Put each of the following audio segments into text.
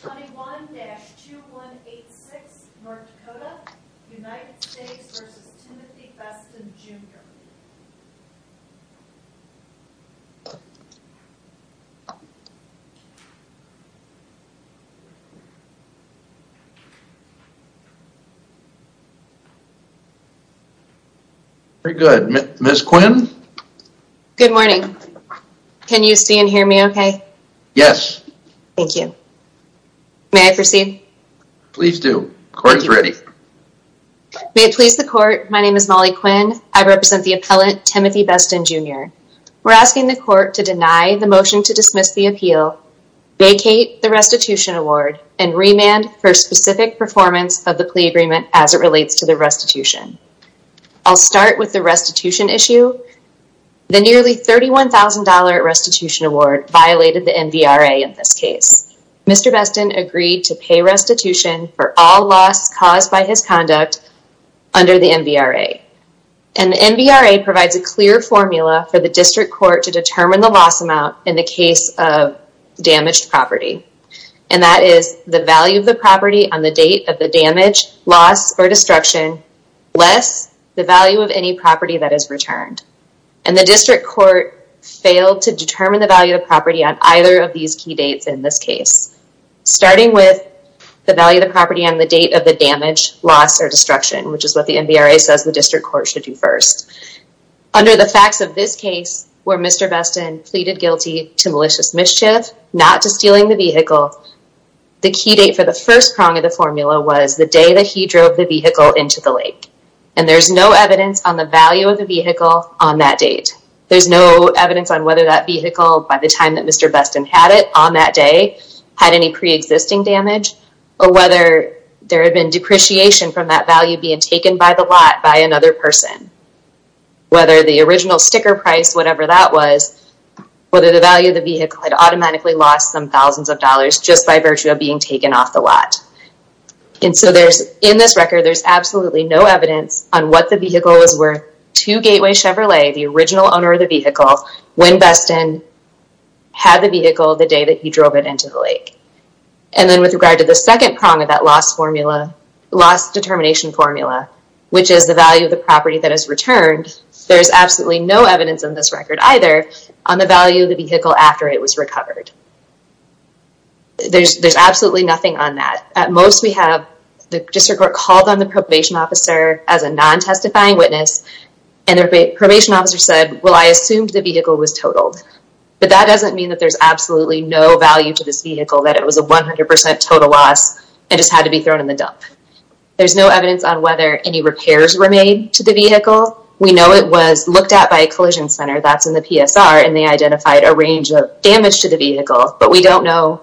21-2186 North Dakota, United States v. Timothy Beston, Jr. Very good. Ms. Quinn? Good morning. Can you see and hear me okay? Yes. Thank you. May I proceed? Please do. Court is ready. May it please the court, my name is Molly Quinn. I represent the appellant Timothy Beston, Jr. We're asking the court to deny the motion to dismiss the appeal, vacate the restitution award, and remand for specific performance of the plea agreement as it relates to the restitution. I'll start with the restitution issue. The nearly $31,000 restitution award violated the MVRA in this case. Mr. Beston agreed to pay restitution for all loss caused by his conduct under the MVRA. And the MVRA provides a clear formula for the district court to determine the loss amount in the case of damaged property. And that is the value of the property on the date of the damage, loss, or destruction, less the value of any property that is returned. And the district court failed to determine the value of property on either of these key dates in this case, starting with the value of the property on the date of the damage, loss, or destruction, which is what the MVRA says the district court should do first. Under the facts of this case, where Mr. Beston pleaded guilty to malicious mischief, not to stealing the vehicle, the key date for the first prong of the formula was the he drove the vehicle into the lake. And there's no evidence on the value of the vehicle on that date. There's no evidence on whether that vehicle, by the time that Mr. Beston had it on that day, had any pre-existing damage, or whether there had been depreciation from that value being taken by the lot by another person. Whether the original sticker price, whatever that was, whether the value of the vehicle had automatically lost some thousands of dollars just by virtue of being taken off the lot. And so there's, in this record, there's absolutely no evidence on what the vehicle was worth to Gateway Chevrolet, the original owner of the vehicle, when Beston had the vehicle the day that he drove it into the lake. And then with regard to the second prong of that loss formula, loss determination formula, which is the value of the property that is returned, there's absolutely no evidence in this record either on the value of the vehicle after it was on that. At most we have the district court called on the probation officer as a non-testifying witness, and the probation officer said, well I assumed the vehicle was totaled. But that doesn't mean that there's absolutely no value to this vehicle, that it was a 100% total loss and just had to be thrown in the dump. There's no evidence on whether any repairs were made to the vehicle. We know it was looked at by a collision center, that's in the PSR, and they identified a range of the vehicle. But we don't know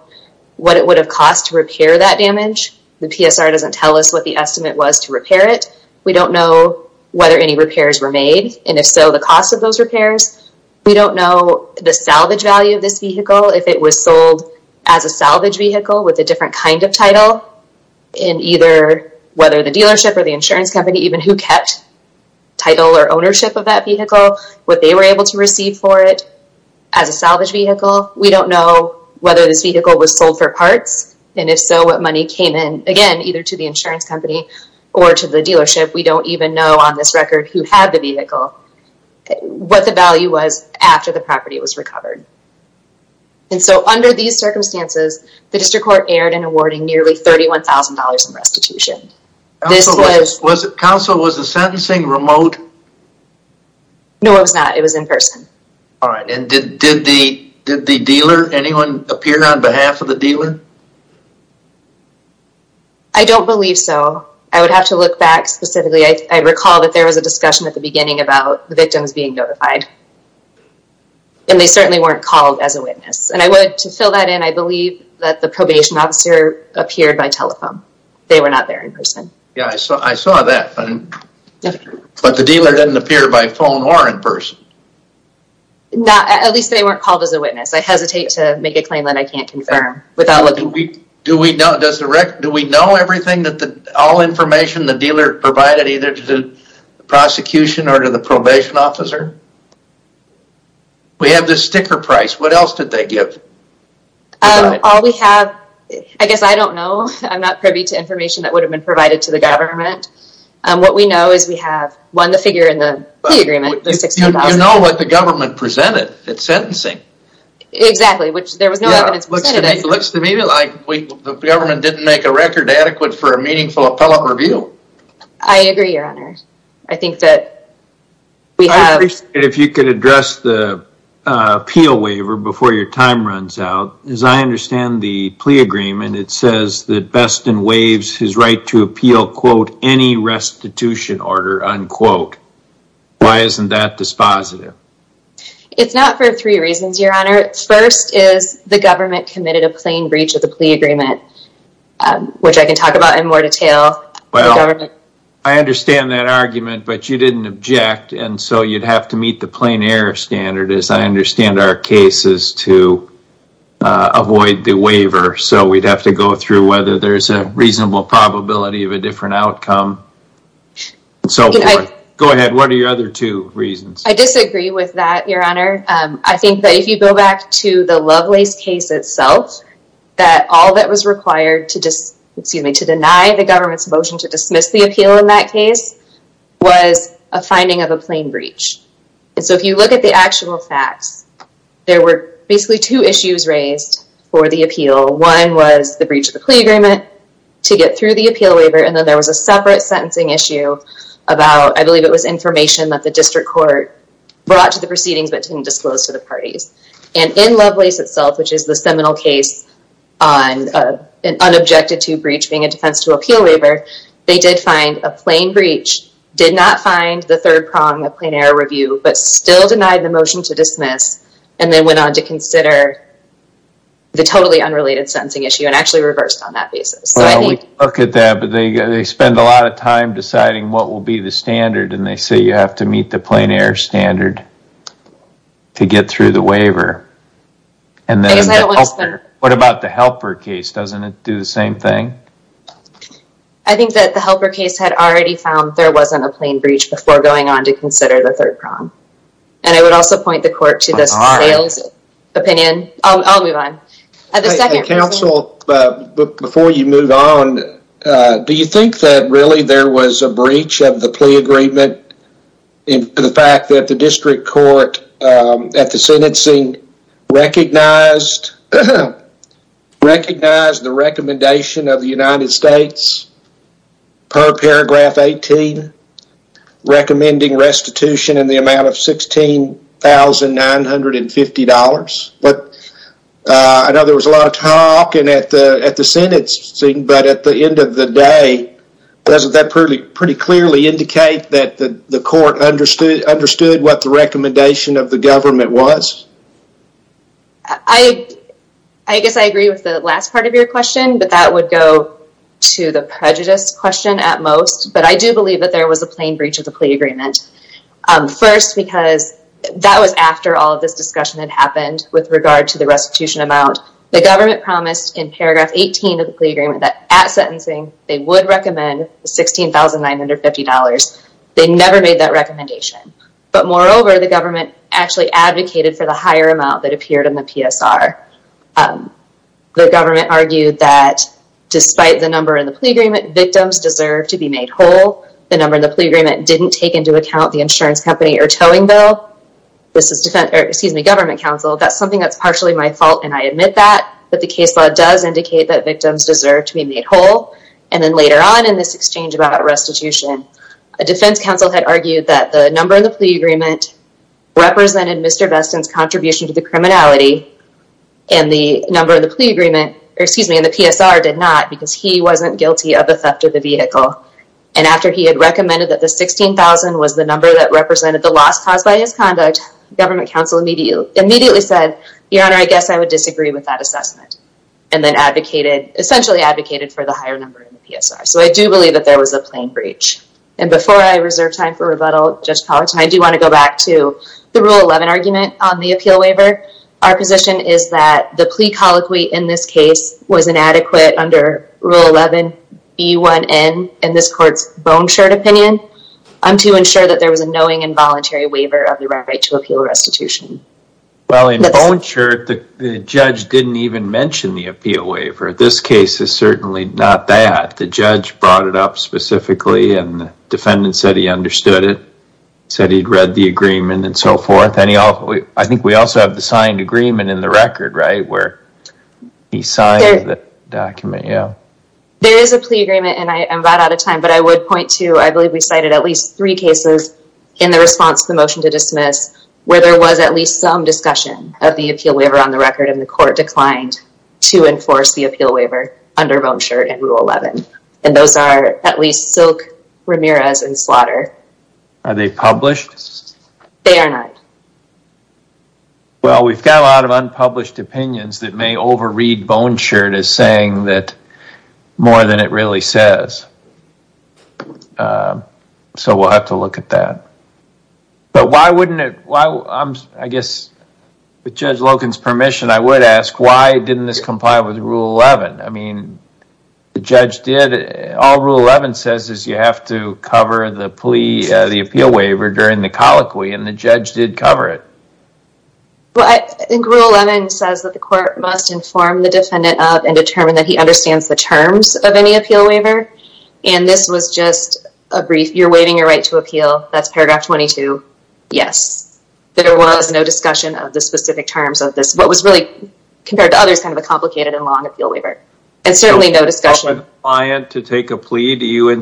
what it would have cost to repair that damage. The PSR doesn't tell us what the estimate was to repair it. We don't know whether any repairs were made, and if so, the cost of those repairs. We don't know the salvage value of this vehicle, if it was sold as a salvage vehicle with a different kind of title, and either whether the dealership or the insurance company, even who kept title or ownership of that vehicle, what they were able to receive for it as a salvage vehicle. We don't know whether this vehicle was sold for parts, and if so, what money came in, again, either to the insurance company or to the dealership. We don't even know on this record who had the vehicle, what the value was after the property was recovered. And so under these circumstances, the district court erred in awarding nearly $31,000 in restitution. Counsel, was the sentencing remote? No, it was not. It was in person. All right, and did the dealer, anyone appear on behalf of the dealer? I don't believe so. I would have to look back specifically. I recall that there was a discussion at the beginning about the victims being notified, and they certainly weren't called as a witness. And I would, to fill that in, I believe that the probation officer appeared by telephone. They were not there in person. Yeah, I saw that, but the dealer didn't appear by phone or in person. Not, at least they weren't called as a witness. I hesitate to make a claim that I can't confirm without looking. Do we know, does the record, do we know everything that the, all information the dealer provided either to the prosecution or to the probation officer? We have this sticker price. What else did they give? All we have, I guess, I don't know. I'm privy to information that would have been provided to the government. What we know is we have won the figure in the plea agreement. You know what the government presented at sentencing. Exactly, which there was no evidence presented. Looks to me like the government didn't make a record adequate for a meaningful appellate review. I agree, your honor. I think that we have. If you could address the appeal waiver before your time runs out. As I understand the plea agreement, it says that Beston waives his right to appeal, quote, any restitution order, unquote. Why isn't that dispositive? It's not for three reasons, your honor. First is the government committed a plain breach of the plea agreement, which I can talk about in more detail. Well, I understand that argument, but you didn't object and so you'd have to meet the plain error standard. As I understand our case is to avoid the waiver. So we'd have to go through whether there's a reasonable probability of a different outcome. So go ahead. What are your other two reasons? I disagree with that, your honor. I think that if you go back to the Lovelace case itself, that all that was required to just, excuse me, to deny the government's motion to look at the actual facts, there were basically two issues raised for the appeal. One was the breach of the plea agreement to get through the appeal waiver. And then there was a separate sentencing issue about, I believe it was information that the district court brought to the proceedings, but didn't disclose to the parties. And in Lovelace itself, which is the seminal case on an unobjected to breach being a defense to appeal waiver, they did find a plain did not find the third prong of plain error review, but still denied the motion to dismiss. And then went on to consider the totally unrelated sentencing issue and actually reversed on that basis. Well, we look at that, but they spend a lot of time deciding what will be the standard. And they say, you have to meet the plain error standard to get through the waiver. And then what about the helper case? Doesn't it do the same thing? I think that the helper case had already found there wasn't a plain breach before going on to consider the third prong. And I would also point the court to this sales opinion. I'll move on. Counsel, before you move on, do you think that really there was a breach of the plea agreement in the fact that the district court at the sentencing recognized the recommendation of the United States per paragraph 18, recommending restitution in the amount of $16,950. But I know there was a lot of talk at the sentencing, but at the end of the day, doesn't that pretty clearly indicate that the court understood what the recommendation of the government was? I guess I agree with the last part of your question, but that would go to the prejudice question at most. But I do believe that there was a plain breach of the plea agreement. First, because that was after all of this discussion had happened with regard to the restitution amount. The government promised in paragraph 18 of the plea agreement that at sentencing, they would recommend the $16,950. They never made that recommendation. But moreover, the government actually advocated for the higher amount that appeared in the PSR. The government argued that despite the number in the plea agreement, victims deserve to be made whole. The number in the plea agreement didn't take into account the insurance company or towing bill. This is government counsel. That's something that's partially my fault, and I admit that. But the case law does indicate that victims deserve to be made whole. And then later on in this exchange about restitution, a defense counsel had argued that the number in the plea agreement represented Mr. Beston's contribution to the criminality, and the number in the plea agreement, or excuse me, in the PSR did not, because he wasn't guilty of the theft of the vehicle. And after he had recommended that the $16,000 was the number that represented the loss caused by his conduct, government counsel immediately said, Your Honor, I guess I would disagree with that assessment. And then advocated, essentially advocated for the higher number in the PSR. So I do believe that there was a plain breach. And before I reserve time for rebuttal, Judge Powerton, I do want to go back to the Rule 11 argument on the appeal waiver. Our position is that the plea colloquy in this case was inadequate under Rule 11B1N in this court's Bone Shirt opinion to ensure that there was a knowing and voluntary waiver of the right to appeal restitution. Well, in Bone Shirt, the judge didn't even mention the appeal waiver. This case is certainly not that. The judge brought it up specifically, and the defendant said he signed agreement in the record, right, where he signed the document, yeah. There is a plea agreement, and I am about out of time, but I would point to, I believe we cited at least three cases in the response to the motion to dismiss where there was at least some discussion of the appeal waiver on the record, and the court declined to enforce the appeal waiver under Bone Shirt and Rule 11. And those are at least Silk, Ramirez, and Slaughter. Are they published? They are not. Well, we have a lot of unpublished opinions that may overread Bone Shirt as saying that more than it really says. So we will have to look at that. But why wouldn't it, I guess, with Judge Loken's permission, I would ask why didn't this comply with Rule 11? I mean, the judge did, all Rule 11 says is you have to cover the plea, the appeal waiver during the colloquy, and the judge did cover it. Well, I think Rule 11 says that the court must inform the defendant of and determine that he understands the terms of any appeal waiver, and this was just a brief, you're waiving your right to appeal, that's paragraph 22, yes. There was no discussion of the specific terms of this, what was really, compared to others, kind of a complicated and long appeal waiver, and certainly no discussion. Do you tell the client to take a plea? Do you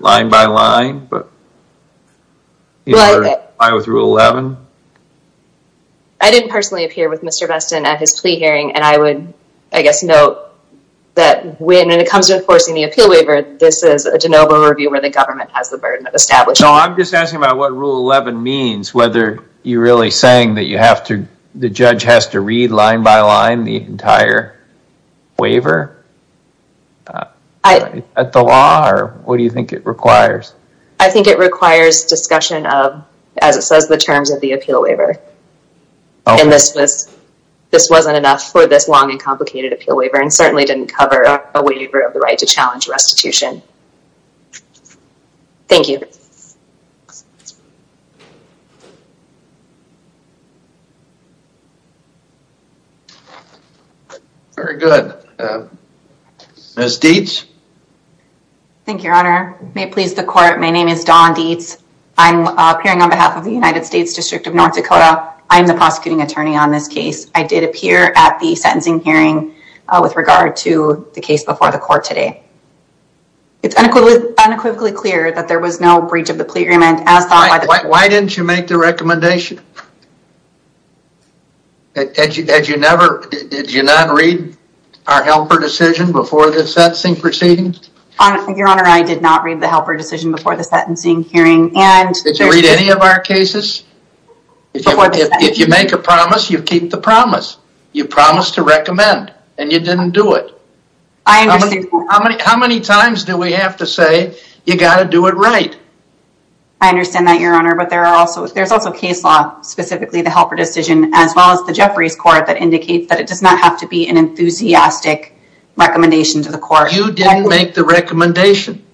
line by line? I didn't personally appear with Mr. Bestin at his plea hearing, and I would, I guess, note that when it comes to enforcing the appeal waiver, this is a de novo review where the government has the burden of establishing. No, I'm just asking about what Rule 11 means, whether you're really saying that you have to, the judge has to read line by line the entire waiver? At the law, or what do you think it requires? I think it requires discussion of, as it says, the terms of the appeal waiver, and this was, this wasn't enough for this long and complicated appeal waiver, and certainly didn't cover a waiver of the right to challenge restitution. Thank you. Very good. Ms. Dietz? Thank you, your honor. May it please the court, my name is Dawn Dietz. I'm appearing on behalf of the United States District of North Dakota. I'm the prosecuting attorney on this case. I did appear at the sentencing hearing with regard to the case of the plea agreement. Why didn't you make the recommendation? Had you never, did you not read our helper decision before the sentencing proceedings? Your honor, I did not read the helper decision before the sentencing hearing. Did you read any of our cases? If you make a promise, you keep the promise. You promised to recommend, and you didn't do it. How many times do we have to say you got to do it right? I understand that, your honor, but there are also, there's also case law, specifically the helper decision, as well as the Jeffries court that indicates that it does not have to be an enthusiastic recommendation to the court. You didn't make the recommendation,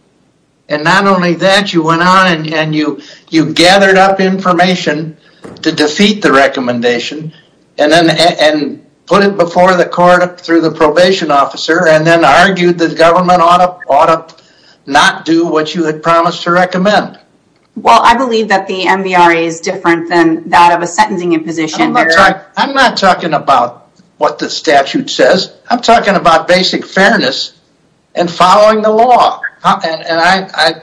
and not only that, you went on and you, you gathered up information to defeat the recommendation, and then, and put it before the court through the probation officer, and then argued that government ought to, not do what you had promised to recommend. Well, I believe that the MVRA is different than that of a sentencing in position. I'm not talking about what the statute says. I'm talking about basic fairness and following the law, and I, I,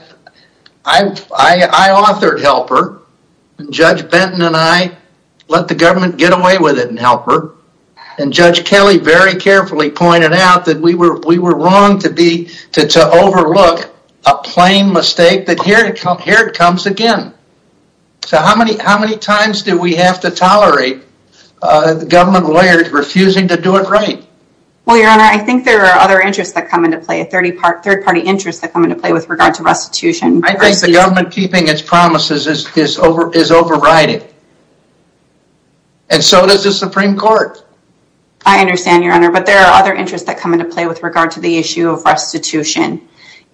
I, I, I authored helper. Judge Benton and I let the government get away with it in helper, and Judge Kelly very carefully pointed out that we were, we were wrong to be, to, to overlook a plain mistake, but here it comes, here it comes again. So how many, how many times do we have to tolerate government lawyers refusing to do it right? Well, your honor, I think there are other interests that come into play, a 30 part, third party interest that come into play with regard to restitution. I think the government keeping its promises is, is over, is overriding, and so does the Supreme Court. I understand your honor, but there are other interests that come into play with regard to the issue of restitution.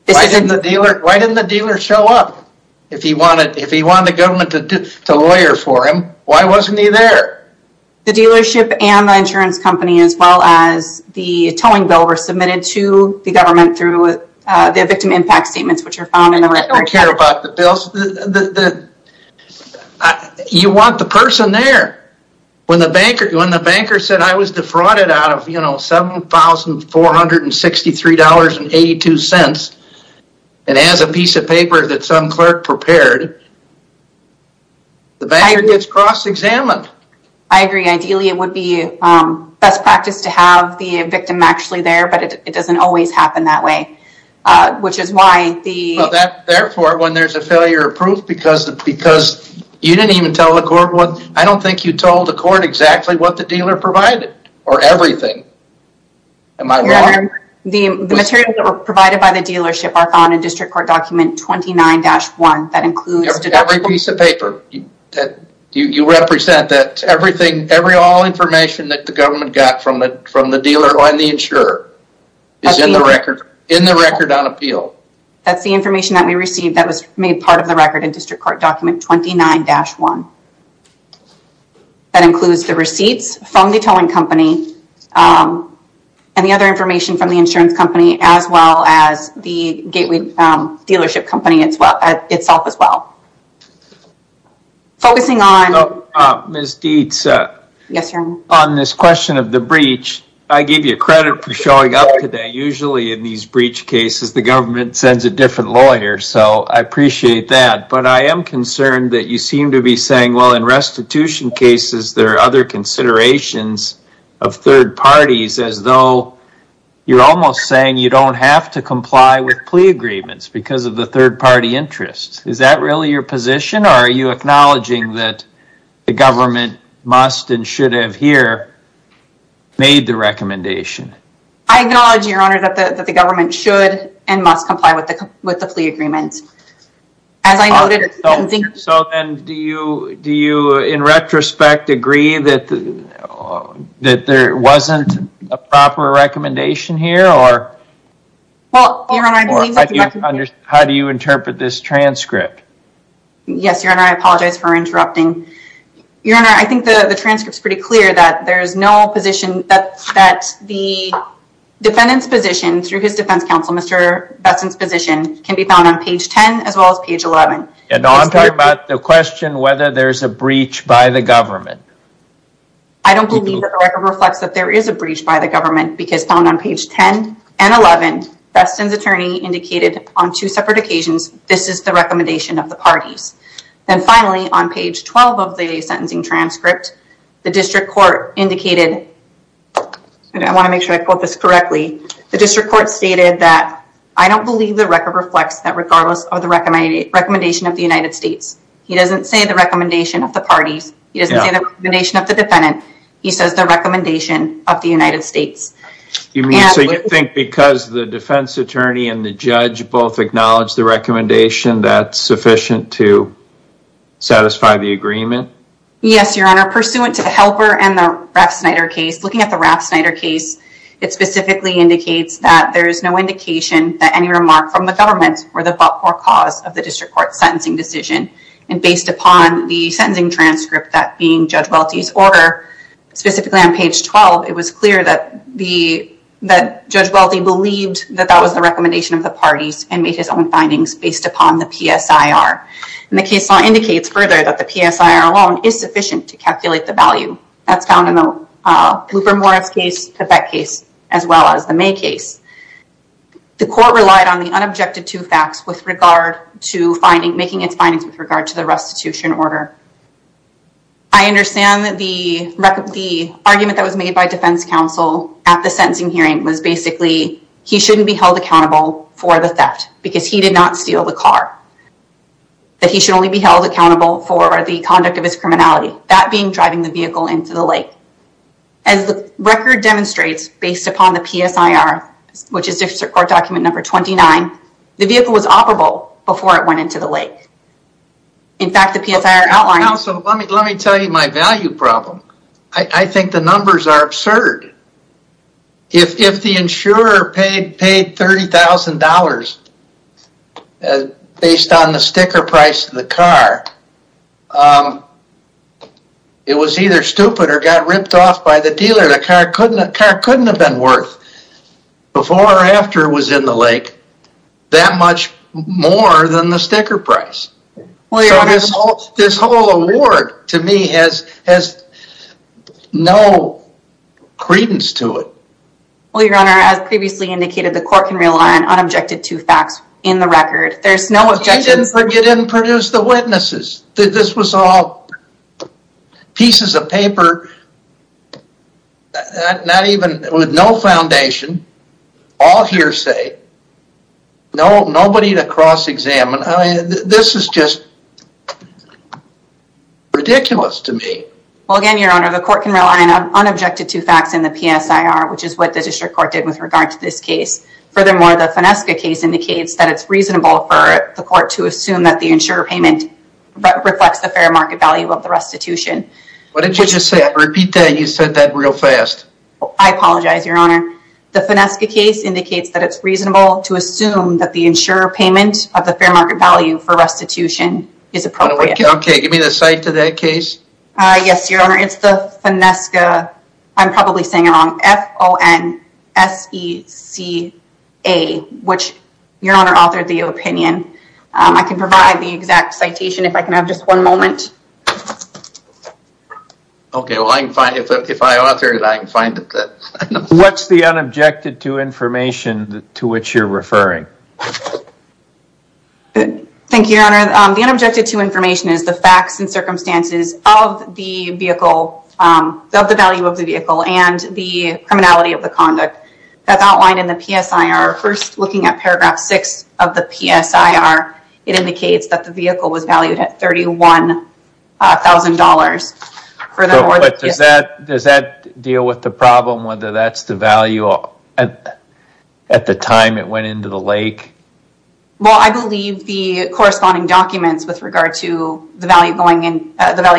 Why didn't the dealer, why didn't the dealer show up? If he wanted, if he wanted the government to, to lawyer for him, why wasn't he there? The dealership and the insurance company, as well as the towing bill were submitted to the government through the victim impact statements, which are found in the record. I don't care about the bills, the, the, the, you want the person there when the banker, when the banker said I was defrauded out of, you know, $7,463.82, and as a piece of paper that some clerk prepared, the banker gets cross-examined. I agree. Ideally, it would be best practice to have the victim actually there, but it doesn't always happen that way, which is why the... Because you didn't even tell the court what, I don't think you told the court exactly what the dealer provided, or everything. Am I wrong? Your honor, the materials that were provided by the dealership are found in district court document 29-1 that includes... Every piece of paper that you represent, that everything, every, all information that the government got from the, from the dealer and the insurer is in the record, in the record on appeal. That's the information that we received that was made part of the record in district court document 29-1. That includes the receipts from the towing company and the other information from the insurance company, as well as the gateway dealership company itself as well. Focusing on... Ms. Dietz. Yes, your honor. On this question of the breach, I give you credit for showing up today. Usually in these breach cases, the government sends a different lawyer, so I appreciate that. But I am concerned that you seem to be saying, well, in restitution cases, there are other considerations of third parties as though you're almost saying you don't have to comply with plea agreements because of the third party interest. Is that really your position, or are you acknowledging that the government must and should have here made the recommendation? I acknowledge, your honor, that the government should and must comply with the, with the plea agreements. As I noted, I think... So then do you, do you, in retrospect, agree that there wasn't a proper recommendation here, or... Well, your honor, I believe that... How do you interpret this transcript? Yes, your honor. I apologize for interrupting. Your honor, I think the transcript is pretty clear that there is no position that the defendant's position through his defense counsel, Mr. Besson's position can be found on page 10 as well as page 11. And I'm talking about the question whether there's a breach by the government. I don't believe that the record reflects that there is a breach by the government, because found on page 10 and 11, Besson's attorney indicated on two separate occasions, this is the recommendation of the parties. Then finally, on page 12 of the sentencing transcript, the district court indicated, and I want to make sure I quote this correctly, the district court stated that, I don't believe the record reflects that regardless of the recommendation of the United States. He doesn't say the recommendation of the parties. He doesn't say the recommendation of the defendant. He says the recommendation of the United States. You mean, so you think because the defense attorney and the judge both acknowledge the recommendation, that's sufficient to satisfy the agreement? Yes, your honor. Pursuant to the helper and the Raff Snyder case, looking at the Raff Snyder case, it specifically indicates that there is no indication that any remark from the government or the cause of the district court sentencing decision. And based upon the sentencing transcript, that being Judge Welty's order, specifically on page 12, it was clear that Judge Welty believed that that was the recommendation of the parties and made his own findings based upon the PSIR. And the case law indicates further that the PSIR alone is sufficient to calculate the value. That's found in the Blooper-Morris case, the Bett case, as well as the May case. The court relied on the unobjected two facts with regard to making its findings with regard to the restitution order. I understand that the argument that was made by defense counsel at the sentencing hearing was basically, he shouldn't be held accountable for the theft because he did not steal the car. That he should only be held accountable for the conduct of his criminality, that being driving the vehicle into the lake. As the record demonstrates, based upon the PSIR, which is District Court document number 29, the vehicle was operable before it went into the lake. In fact, the PSIR outlines... Counsel, let me tell you my value problem. I think the numbers are absurd. If the insurer paid $30,000 based on the sticker price of the car, it was either stupid or got ripped off by the dealer. The car couldn't have been worth, before or after it was in the lake, that much more than the sticker price. So this whole award to me has no credence to it. Well, your honor, as previously indicated, the court can rely on unobjected two facts in the record. There's no objection... But you didn't produce the witnesses. This was all pieces of paper with no foundation, all hearsay, nobody to cross-examine. This is just ridiculous to me. Well, again, your honor, the court can rely on unobjected two facts in the PSIR, which is what the District Court did with regard to this case. Furthermore, the Finesca case indicates that it's reasonable for the court to assume that the insurer payment reflects the fair market value of the restitution. What did you just say? I repeat that, you said that real fast. I apologize, your honor. The Finesca case indicates that it's reasonable to assume that the insurer payment of the fair market value for restitution is appropriate. Okay, give me the site of that case. Yes, your honor, it's the Finesca, I'm probably saying it wrong, F-O-N-S-E-C-A, which your honor authored the opinion. I can provide the exact citation if I can have just one moment. Okay, well, if I author it, I can find it. What's the unobjected to information to which you're referring? Thank you, your honor. The unobjected to information is the facts and circumstances of the value of the vehicle and the criminality of the conduct. That's outlined in the PSIR. First, looking at paragraph six of the PSIR, it indicates that the vehicle was valued at $31,000. Does that deal with the problem, whether that's the value at the time it went into the lake? Well, I believe the corresponding documents with regard to the value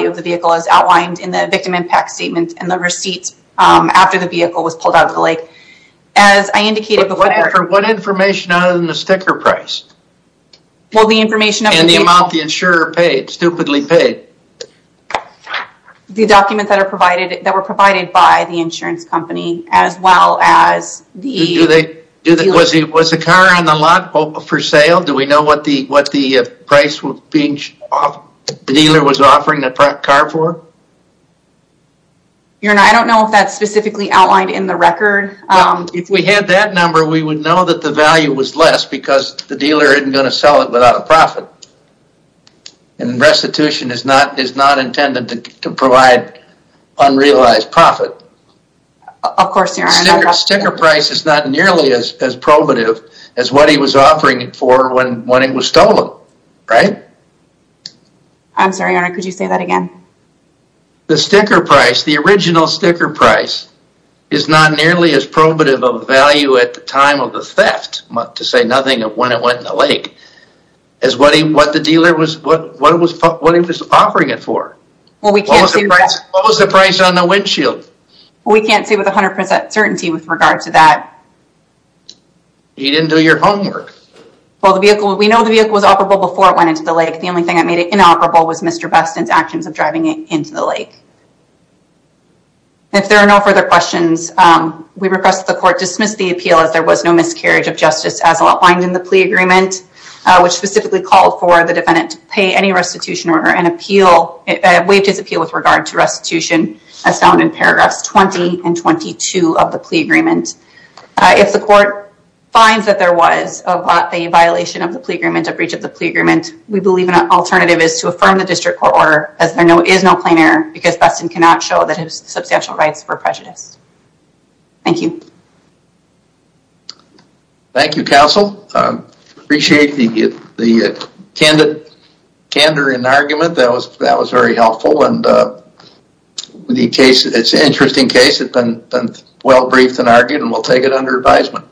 of the vehicle is outlined in the victim impact statement and the receipts after the vehicle was pulled out of the lake. As I indicated before... For what information other than the sticker price? Well, the information... And the amount the insurer paid, stupidly paid. The documents that are provided, that were provided by the insurance company, as well as the... Do they, was the car on the lot for sale? Do we know what the price was being, the dealer was offering the car for? Your Honor, I don't know if that's specifically outlined in the record. If we had that number, we would know that the value was less because the dealer isn't going to sell it without a profit. And restitution is not intended to provide unrealized profit. Of course, Your Honor. Sticker price is not nearly as probative as what he was offering it for when it was stolen, right? I'm sorry, Your Honor, could you say that again? The sticker price, the original sticker price, is not nearly as probative of value at the time of the theft, to say nothing of when it went in the lake, as what the dealer was, what he was offering it for. What was the price on the windshield? We can't say with 100% certainty with regard to that. You didn't do your homework. Well, the vehicle... We know the vehicle was operable before it went into the lake. The only thing that made it inoperable was Mr. Beston's actions of driving it into the lake. If there are no further questions, we request that the court dismiss the appeal as there was no miscarriage of justice as outlined in the plea agreement, which specifically called for the defendant to pay any restitution or an appeal, waived his appeal with regard to restitution as found in paragraphs 20 and 22 of the plea agreement. If the court finds that there was a violation of the plea agreement, a breach of the plea agreement, we believe an alternative is to affirm the district court order as there is no plain error, because Beston cannot show that his substantial rights were prejudiced. Thank you. Thank you, counsel. Appreciate the candor and argument. That was very helpful. And the case, it's an interesting case. It's been well briefed and argued, and we'll take it under advisement.